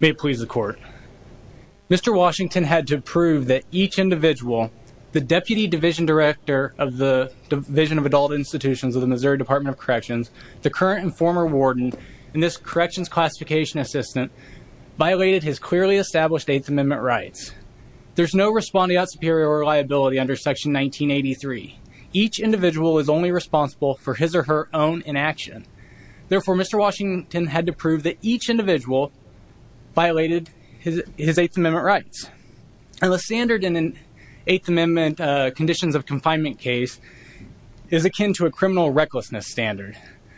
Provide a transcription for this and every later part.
May it please the court. Mr. Washington had to prove that each individual, the Deputy Division Director of the Division of Adult Institutions of the Missouri Department of Corrections, the current and former warden, and this Corrections Classification Assistant, violated his clearly established Eighth Amendment rights. There is no respondeat superior liability under Section 1983. Each individual is only responsible for his or her own inaction. Therefore, Mr. Washington had to prove that each individual violated his Eighth Amendment rights. And the standard in an Eighth Amendment conditions of confinement case is akin to a criminal recklessness standard.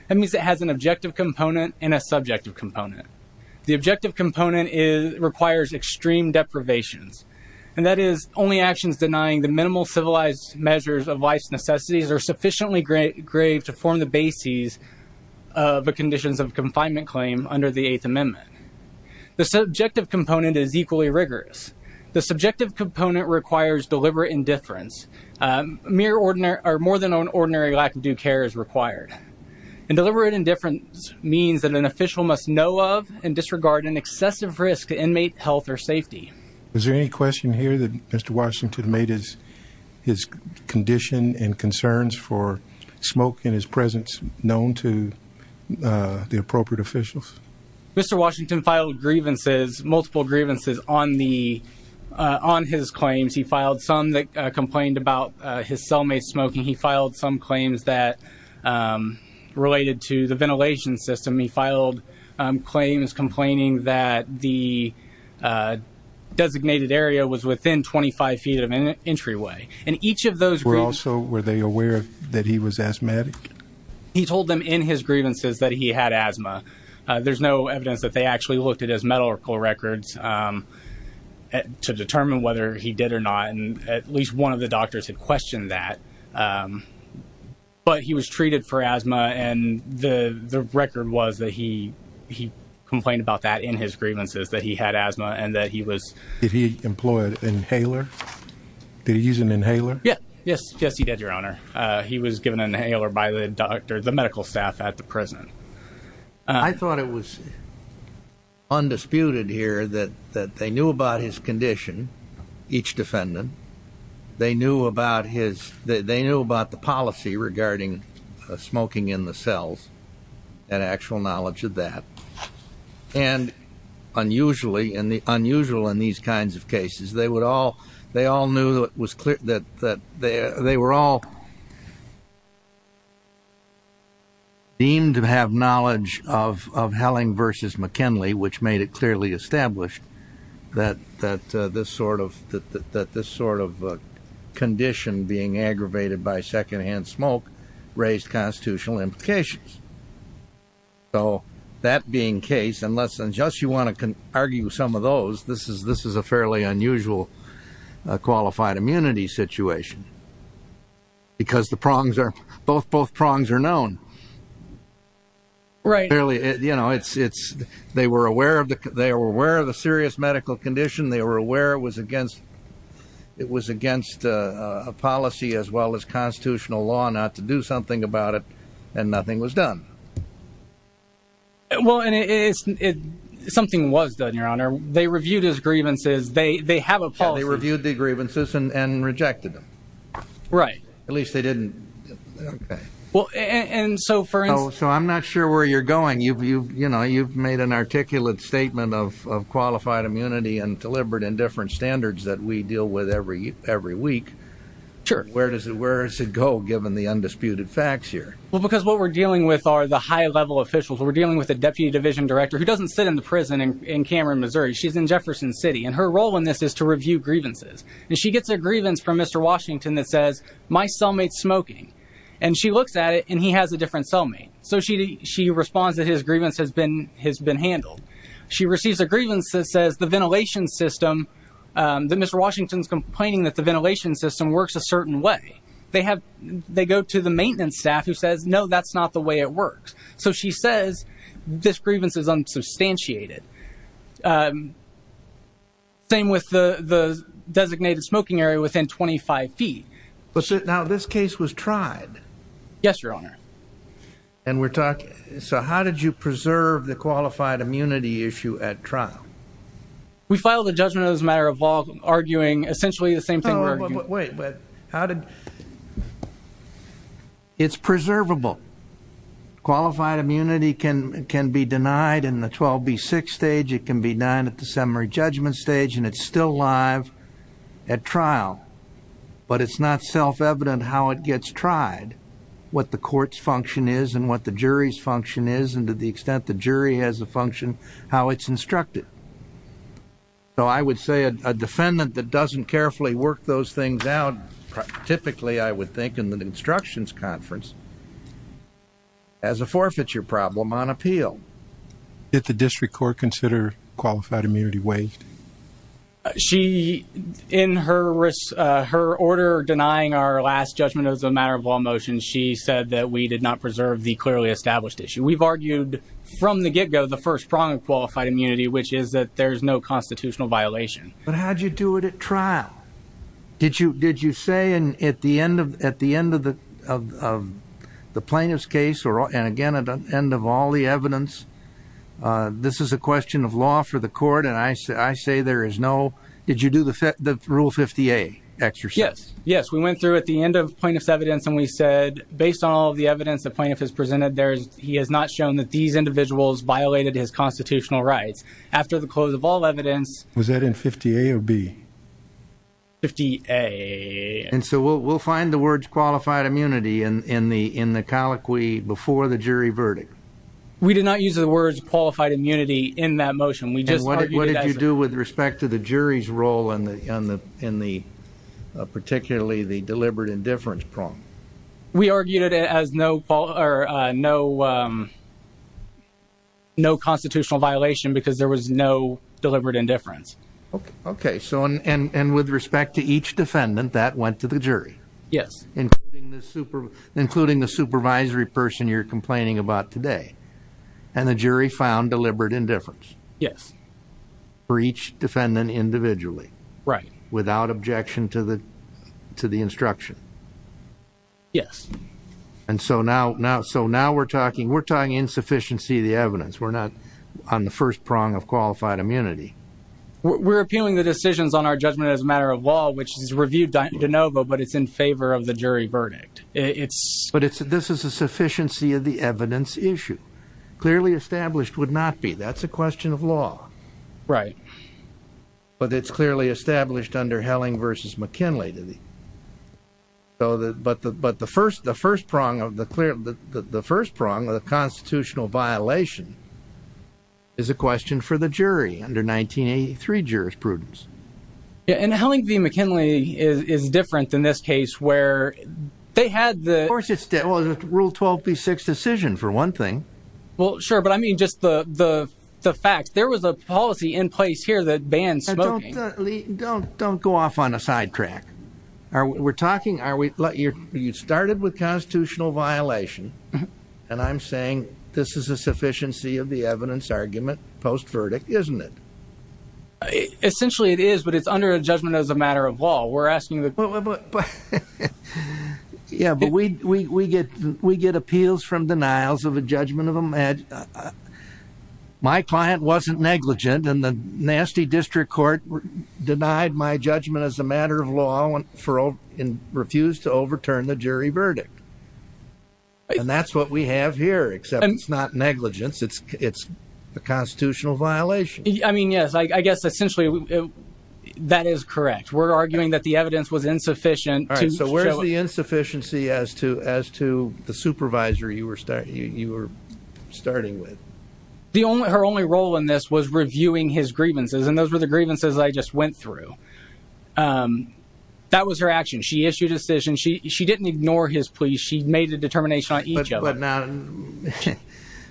That means it has an objective component and a subjective component. The objective component requires extreme deprivations, and that is only actions denying the minimal civilized measures of life's necessities are sufficiently grave to form the bases of the conditions of confinement claim under the Eighth Amendment. The subjective component is equally rigorous. The subjective component requires deliberate indifference. More than an ordinary lack of due care is required. And deliberate indifference means that an official must know of and disregard an excessive risk to inmate health or safety. Is there any question here that Mr. Washington made his condition and concerns for smoke in his presence known to the appropriate officials? Mr. Washington filed grievances, multiple grievances, on his claims. He filed some that complained about his cellmate smoking. He filed some claims that related to the ventilation system. He filed claims complaining that the designated area was within 25 feet of an entryway. And each of those grievances... Also, were they aware that he was asthmatic? He told them in his grievances that he had asthma. There's no evidence that they actually looked at his medical records to determine whether he did or not, and at least one of the doctors had questioned that. But he was treated for asthma, and the record was that he complained about that in his grievances, that he had asthma, and that he was... Did he employ an inhaler? Did he use an inhaler? Yes. Yes, he did, Your Honor. He was given an inhaler by the doctor, the medical staff at the prison. I thought it was undisputed here that they knew about his condition, each defendant. They knew about the policy regarding smoking in the cells, and actual knowledge of that. And unusually in these kinds of cases, they all knew that they were all deemed to have knowledge of Helling versus McKinley, which made it clearly established that this sort of condition being aggravated by secondhand smoke raised constitutional implications. So that being the case, unless and just you want to argue some of those, this is a fairly unusual qualified immunity situation, because the prongs are... Both prongs are known. Right. You know, they were aware of the serious medical condition. They were aware it was against a policy as well as constitutional law not to do something about it, and nothing was done. Well, and something was done, Your Honor. They reviewed his grievances. They have a policy... Yeah, they reviewed the grievances and rejected them. Right. At least they didn't... Okay. Well, and so for instance... Oh, so I'm not sure where you're going. You know, you've made an articulate statement of qualified immunity and deliberate and different standards that we deal with every week. Sure. Where does it go, given the undisputed facts here? Well, because what we're dealing with are the high-level officials. We're dealing with a deputy division director who doesn't sit in the prison in Cameron, Missouri. She's in Jefferson City, and her role in this is to review grievances. And she gets a grievance from Mr. Washington that says, my cellmate's smoking. And she looks at it, and he has a different cellmate. So she responds that his grievance has been handled. She receives a grievance that says the ventilation system, that Mr. Washington's complaining that the ventilation system works a certain way. They go to the maintenance staff who says, no, that's not the way it works. So she says, this grievance is unsubstantiated. Same with the designated smoking area within 25 feet. Now, this case was tried. Yes, Your Honor. And we're talking, so how did you preserve the qualified immunity issue at trial? We filed a judgment as a matter of law, arguing essentially the same thing we're arguing. Oh, but wait, but how did... It's preservable. Qualified immunity can be denied in the 12B6 stage. It can be denied at the summary judgment stage. And it's still live at trial. But it's not self-evident how it gets tried, what the court's function is and what the jury's function is, and to the extent the jury has a function, how it's instructed. So I would say a defendant that doesn't carefully work those things out, typically I would think in an instructions conference, has a forfeiture problem on appeal. Did the district court consider qualified immunity waived? She, in her order denying our last judgment as a matter of law motion, she said that we did not preserve the clearly established issue. We've argued from the get-go the first prong of qualified immunity, which is that there's no constitutional violation. But how did you do it at trial? Did you say at the end of the plaintiff's case, and again at the end of all the evidence, this is a question of law for the court, and I say there is no, did you do the Rule 50A exercise? Yes, yes, we went through at the end of plaintiff's evidence and we said based on all the evidence the plaintiff has presented, he has not shown that these individuals violated his constitutional rights. After the close of all evidence... Was that in 50A or B? 50A. And so we'll find the words qualified immunity in the colloquy before the jury verdict. We did not use the words qualified immunity in that motion. And what did you do with respect to the jury's role in particularly the deliberate indifference prong? We argued it as no constitutional violation because there was no deliberate indifference. Okay, and with respect to each defendant that went to the jury? Yes. Including the supervisory person you're complaining about today. And the jury found deliberate indifference? Yes. For each defendant individually? Right. Without objection to the instruction? Yes. And so now we're talking insufficiency of the evidence. We're not on the first prong of qualified immunity. We're appealing the decisions on our judgment as a matter of law, which is reviewed de novo, but it's in favor of the jury verdict. But this is a sufficiency of the evidence issue. Clearly established would not be. That's a question of law. Right. But it's clearly established under Helling v. McKinley. But the first prong of the constitutional violation is a question for the jury under 1983 jurisprudence. And Helling v. McKinley is different than this case where they had the... Of course it's rule 12b6 decision for one thing. Well, sure, but I mean just the facts. There was a policy in place here that bans smoking. Don't go off on a sidetrack. You started with constitutional violation, and I'm saying this is a sufficiency of the evidence argument post-verdict, isn't it? Essentially it is, but it's under a judgment as a matter of law. We're asking the... Yeah, but we get appeals from denials of a judgment of a... My client wasn't negligent, and the nasty district court denied my judgment as a matter of law and refused to overturn the jury verdict. And that's what we have here, except it's not negligence. It's a constitutional violation. I mean, yes, I guess essentially that is correct. We're arguing that the evidence was insufficient. All right, so where's the insufficiency as to the supervisor you were starting with? Her only role in this was reviewing his grievances, and those were the grievances I just went through. That was her action. She issued a decision. She didn't ignore his pleas. She made a determination on each of them.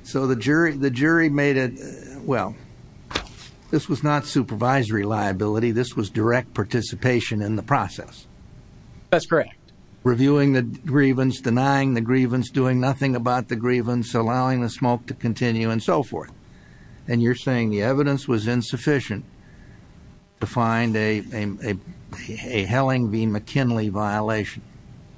So the jury made a... Well, this was not supervisory liability. This was direct participation in the process. That's correct. Reviewing the grievance, denying the grievance, doing nothing about the grievance, allowing the smoke to continue, and so forth. And you're saying the evidence was insufficient to find a Helling v. McKinley violation.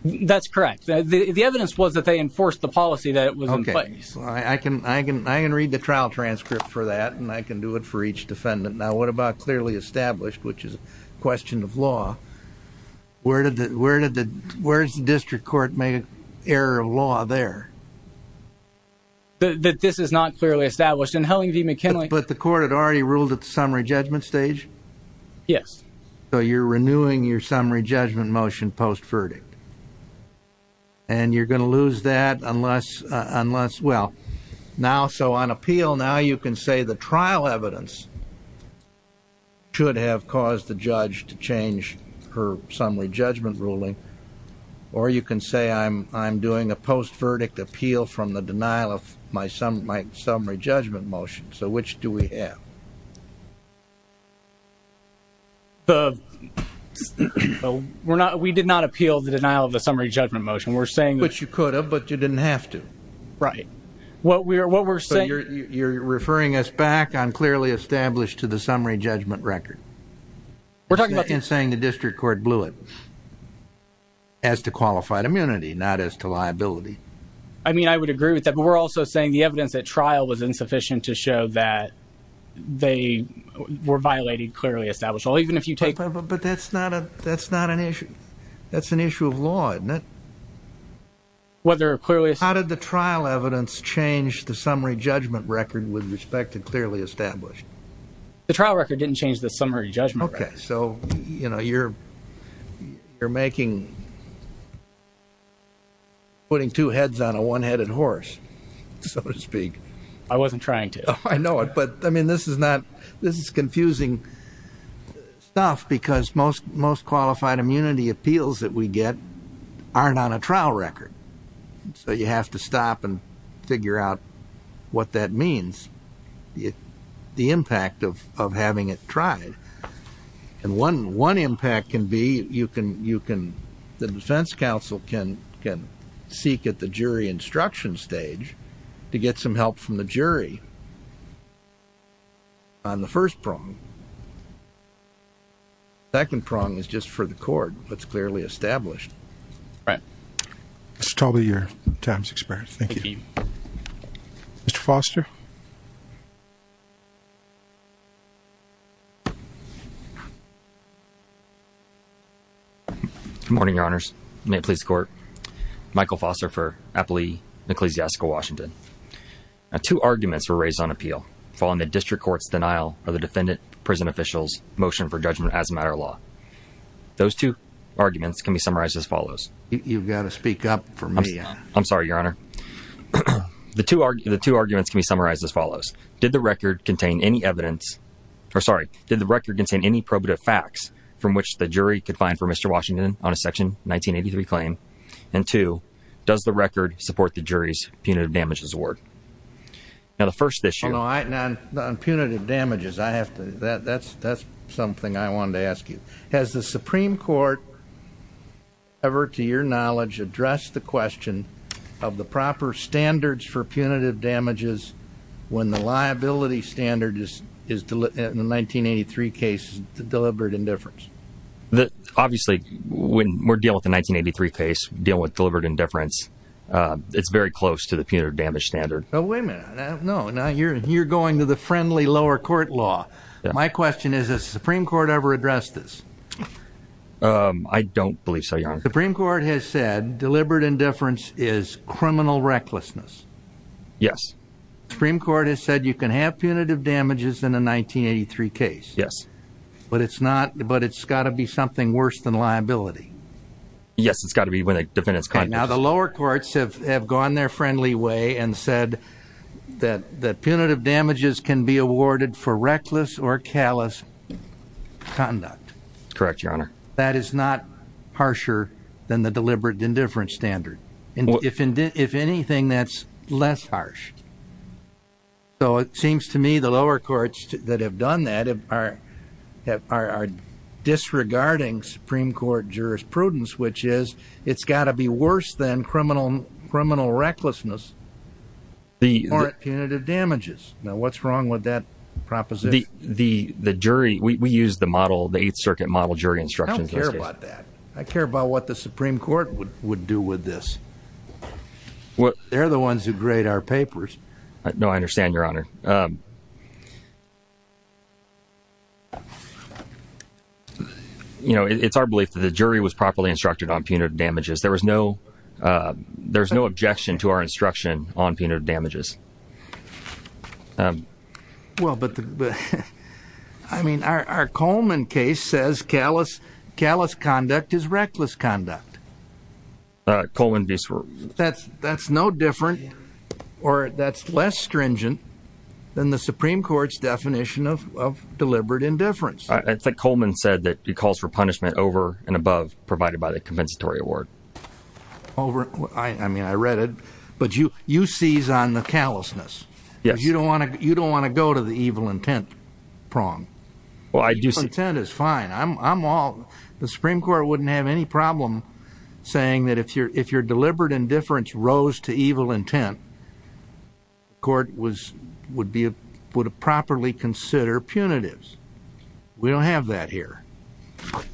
That's correct. The evidence was that they enforced the policy that was in place. Okay. I can read the trial transcript for that, and I can do it for each defendant. Now, what about clearly established, which is a question of law? Where did the district court make an error of law there? That this is not clearly established. In Helling v. McKinley... But the court had already ruled at the summary judgment stage? Yes. So you're renewing your summary judgment motion post-verdict. And you're going to lose that unless, well... So on appeal, now you can say the trial evidence should have caused the judge to change her summary judgment ruling, or you can say I'm doing a post-verdict appeal from the denial of my summary judgment motion. So which do we have? We did not appeal the denial of the summary judgment motion. We're saying... Which you could have, but you didn't have to. Right. What we're saying... So you're referring us back on clearly established to the summary judgment record. We're talking about... And saying the district court blew it as to qualified immunity, not as to liability. I mean, I would agree with that. But we're also saying the evidence at trial was insufficient to show that they were violated clearly established. Even if you take... But that's not an issue. That's an issue of law, isn't it? Whether clearly... How did the trial evidence change the summary judgment record with respect to clearly established? The trial record didn't change the summary judgment record. Okay. So, you know, you're making... Putting two heads on a one-headed horse, so to speak. I wasn't trying to. I know it. But, I mean, this is not... This is confusing stuff because most qualified immunity appeals that we get aren't on a trial record. So you have to stop and figure out what that means, the impact of having it tried. And one impact can be you can... The defense counsel can seek at the jury instruction stage to get some help from the jury on the first prong. The second prong is just for the court, what's clearly established. Right. Mr. Talbot, you're a times expert. Thank you. Thank you. Mr. Foster. Good morning, Your Honors. May it please the Court. Michael Foster for Appley Ecclesiastical Washington. Two arguments were raised on appeal following the district court's denial of the defendant prison official's motion for judgment as a matter of law. Those two arguments can be summarized as follows. You've got to speak up for me. I'm sorry, Your Honor. The two arguments can be summarized as follows. Did the record contain any evidence... Or, sorry. Did the record contain any probative facts from which the jury could find for Mr. Washington on a Section 1983 claim? And two, does the record support the jury's punitive damages award? Now, the first issue... No, on punitive damages, I have to... That's something I wanted to ask you. Has the Supreme Court ever, to your knowledge, addressed the question of the proper standards for punitive damages when the liability standard in the 1983 case is deliberate indifference? Obviously, when we're dealing with the 1983 case, dealing with deliberate indifference, it's very close to the punitive damage standard. Wait a minute. No, you're going to the friendly lower court law. My question is, has the Supreme Court ever addressed this? I don't believe so, Your Honor. The Supreme Court has said deliberate indifference is criminal recklessness. Yes. The Supreme Court has said you can have punitive damages in a 1983 case. Yes. But it's not... But it's got to be something worse than liability. Yes, it's got to be when a defendant's... That's correct, Your Honor. That is not harsher than the deliberate indifference standard. If anything, that's less harsh. So it seems to me the lower courts that have done that are disregarding Supreme Court jurisprudence, which is it's got to be worse than criminal recklessness or punitive damages. Now what's wrong with that proposition? The jury, we use the model, the Eighth Circuit model jury instructions. I don't care about that. I care about what the Supreme Court would do with this. They're the ones who grade our papers. No, I understand, Your Honor. It's our belief that the jury was properly instructed on punitive damages. There was no objection to our instruction on punitive damages. Well, but I mean our Coleman case says callous conduct is reckless conduct. That's no different or that's less stringent than the Supreme Court's definition of deliberate indifference. I think Coleman said that he calls for punishment over and above provided by the compensatory award. I mean, I read it, but you seize on the callousness. You don't want to go to the evil intent prong. Evil intent is fine. The Supreme Court wouldn't have any problem saying that if your deliberate indifference rose to evil intent, the court would properly consider punitives. We don't have that here.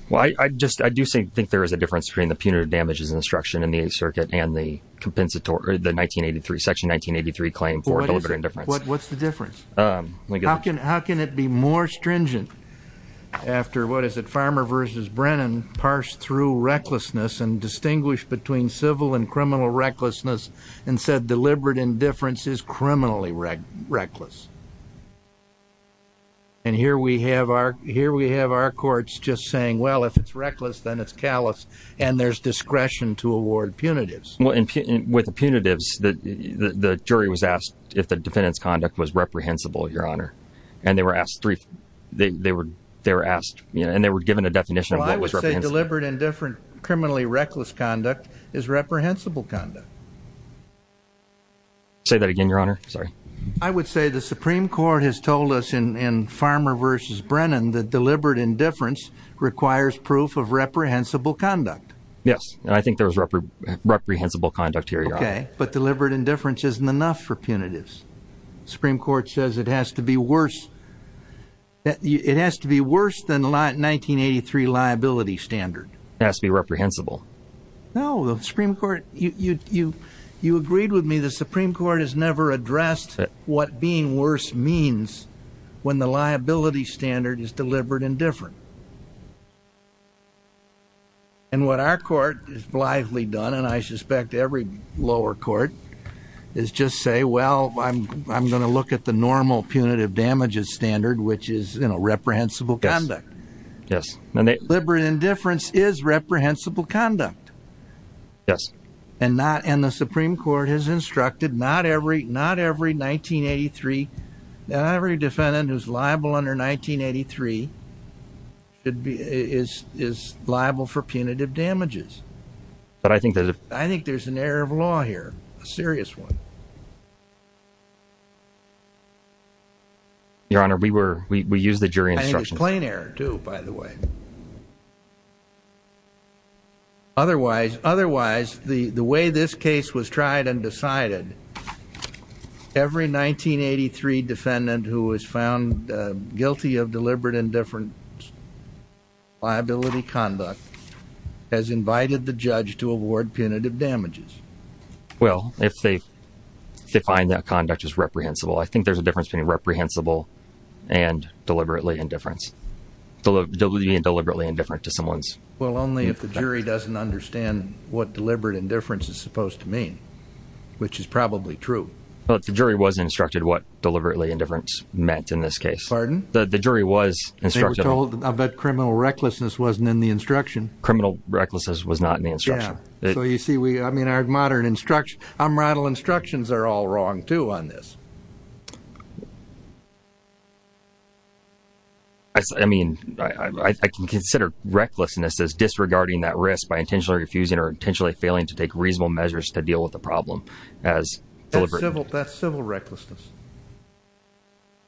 Well, I do think there is a difference between the punitive damages instruction in the Eighth Circuit and the section 1983 claim for deliberate indifference. What's the difference? How can it be more stringent after, what is it, Farmer v. Brennan parsed through recklessness and distinguished between civil and criminal recklessness and said deliberate indifference is criminally reckless? And here we have our courts just saying, well, if it's reckless, then it's callous, and there's discretion to award punitives. Well, with the punitives, the jury was asked if the defendant's conduct was reprehensible, Your Honor. And they were given a definition of what was reprehensible. Well, I would say deliberate indifference, criminally reckless conduct is reprehensible conduct. Say that again, Your Honor. Sorry. I would say the Supreme Court has told us in Farmer v. Brennan that deliberate indifference requires proof of reprehensible conduct. Yes, and I think there is reprehensible conduct here, Your Honor. Okay, but deliberate indifference isn't enough for punitives. The Supreme Court says it has to be worse than 1983 liability standard. It has to be reprehensible. No, the Supreme Court, you agreed with me, the Supreme Court has never addressed what being worse means when the liability standard is deliberate indifference. And what our court has blithely done, and I suspect every lower court, is just say, well, I'm going to look at the normal punitive damages standard, which is, you know, reprehensible conduct. Deliberate indifference is reprehensible conduct. Yes. And the Supreme Court has instructed, not every defendant who's liable under 1983 is liable for punitive damages. But I think there's an error of law here, a serious one. Your Honor, we used the jury instructions. Plain error, too, by the way. Otherwise, the way this case was tried and decided, every 1983 defendant who was found guilty of deliberate indifference liability conduct has invited the judge to award punitive damages. Well, if they find that conduct is reprehensible. I think there's a difference between reprehensible and deliberately indifference. Being deliberately indifferent to someone's... Well, only if the jury doesn't understand what deliberate indifference is supposed to mean, which is probably true. But the jury was instructed what deliberately indifference meant in this case. Pardon? The jury was instructed... They were told that criminal recklessness wasn't in the instruction. Criminal recklessness was not in the instruction. Yeah. So you see, I mean, our modern instruction... Our moral instructions are all wrong, too, on this. I mean, I can consider recklessness as disregarding that risk by intentionally refusing or intentionally failing to take reasonable measures to deal with the problem as deliberate... That's civil recklessness.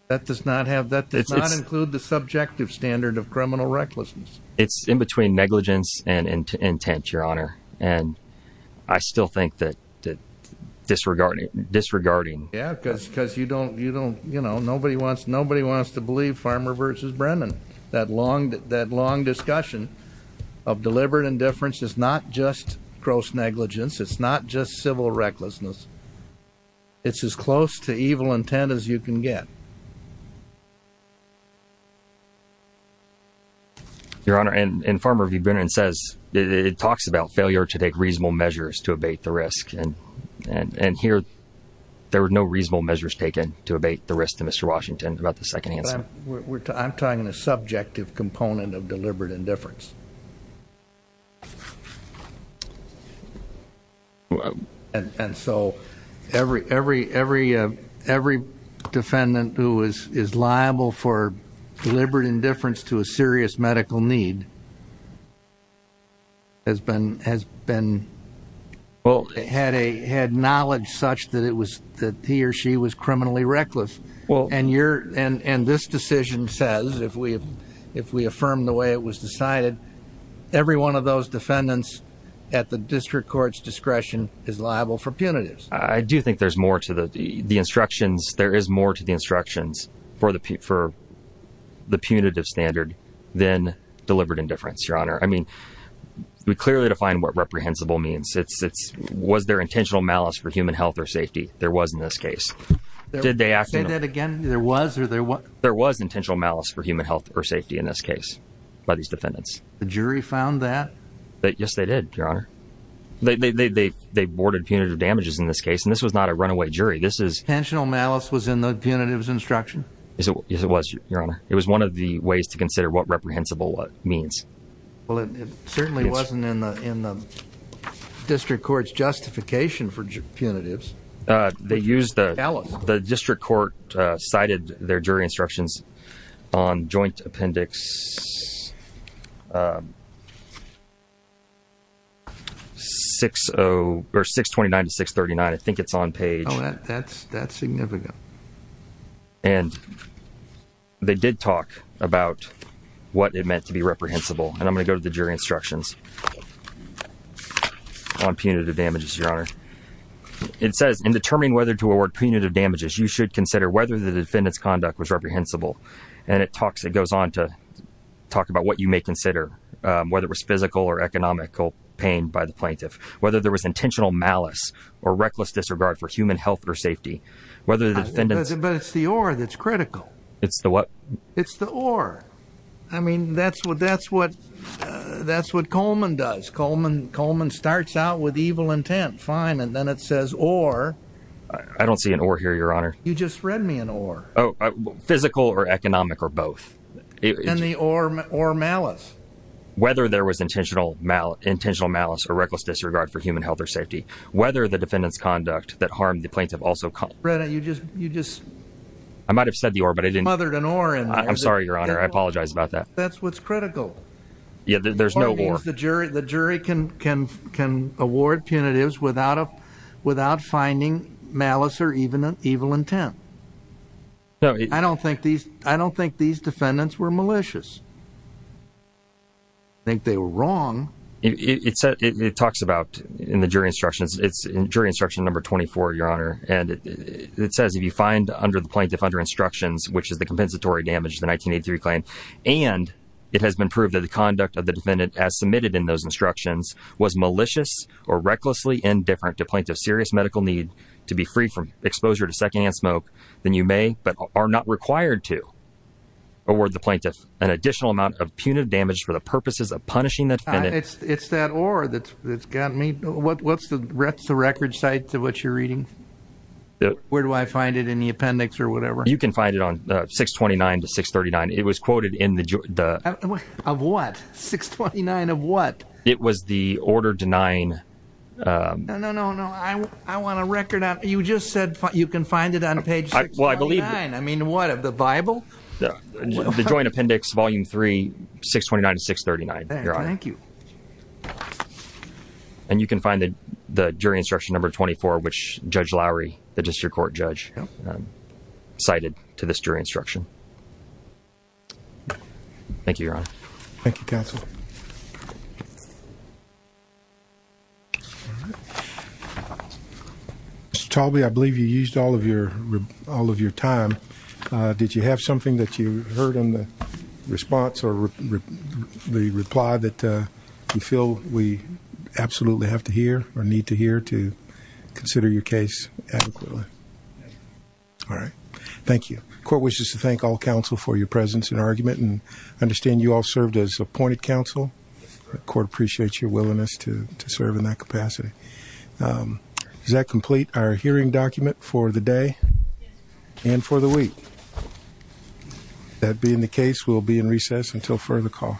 That does not include the subjective standard of criminal recklessness. It's in between negligence and intent, Your Honor. And I still think that disregarding... Yeah, because you don't... Nobody wants to believe Farmer versus Brennan. That long discussion of deliberate indifference is not just gross negligence. It's not just civil recklessness. It's as close to evil intent as you can get. Your Honor, and Farmer v. Brennan says... It talks about failure to take reasonable measures to abate the risk. And here, there were no reasonable measures taken to abate the risk to Mr. Washington about the second answer. I'm talking the subjective component of deliberate indifference. And so, every defendant who is liable for deliberate indifference to a serious medical need has had knowledge such that he or she was criminally reckless. And this decision says, if we affirm the way it was decided, every one of those defendants at the district court's discretion is liable for punitives. I do think there's more to the instructions... There is more to the instructions for the punitive standard than deliberate indifference, Your Honor. I mean, we clearly defined what reprehensible means. It's, was there intentional malice for human health or safety? There was in this case. Say that again. There was or there wasn't? There was intentional malice for human health or safety in this case by these defendants. The jury found that? Yes, they did, Your Honor. They boarded punitive damages in this case, and this was not a runaway jury. Intentional malice was in the punitives instruction? Yes, it was, Your Honor. It was one of the ways to consider what reprehensible means. Well, it certainly wasn't in the district court's justification for punitives. The district court cited their jury instructions on Joint Appendix 629-639. I think it's on page... Oh, that's significant. And they did talk about what it meant to be reprehensible, and I'm going to go to the jury instructions on punitive damages, Your Honor. It says, in determining whether to award punitive damages, you should consider whether the defendant's conduct was reprehensible. And it talks, it goes on to talk about what you may consider, whether it was physical or economical pain by the plaintiff, whether there was intentional malice or reckless disregard for human health or safety, whether the defendants... But it's the or that's critical. It's the what? It's the or. I mean, that's what, that's what, that's what Coleman does. Coleman starts out with evil intent. Fine. And then it says, or... I don't see an or here, Your Honor. You just read me an or. Oh, physical or economic or both. And the or, or malice. Whether there was intentional malice or reckless disregard for human health or safety, whether the defendant's conduct that harmed the plaintiff also... Brennan, you just, you just... I might have said the or, but I didn't... Smothered an or in there. I'm sorry, Your Honor. I apologize about that. That's what's critical. Yeah, there's no or. The jury, the jury can, can, can award punitives without a, without finding malice or even an evil intent. I don't think these, I don't think these defendants were malicious. I think they were wrong. It talks about, in the jury instructions, it's in jury instruction number 24, Your Honor. And it says if you find under the plaintiff under instructions, which is the compensatory damage, the 1983 claim, and it has been proved that the conduct of the defendant as submitted in those instructions was malicious or recklessly indifferent to plaintiff's serious medical need to be free from exposure to secondhand smoke, then you may, but are not required to, award the plaintiff an additional amount of punitive damage for the purposes of punishing the defendant. It's, it's that or that's, that's gotten me. What, what's the, what's the record side to what you're reading? Where do I find it? In the appendix or whatever? You can find it on 629 to 639. It was quoted in the of what? 629 of what? It was the order denying. No, no, no, no. I want a record out. You just said you can find it on page. Well, I believe I mean, what of the Bible? The joint appendix, volume three, 629 to 639. Thank you. And you can find that the jury instruction number 24, which judge Lowry, the district court judge cited to this jury instruction. Thank you. Thank you. Thank you. I believe you used all of your, all of your time. Did you have something that you heard in the response or the reply that you feel we absolutely have to hear or need to hear to consider your case adequately? All right. Thank you. Court wishes to thank all counsel for your presence and argument and understand you all served as appointed counsel. Court appreciates your willingness to serve in that capacity. Is that complete? Our hearing document for the day and for the week. That being the case, we'll be in recess until further call.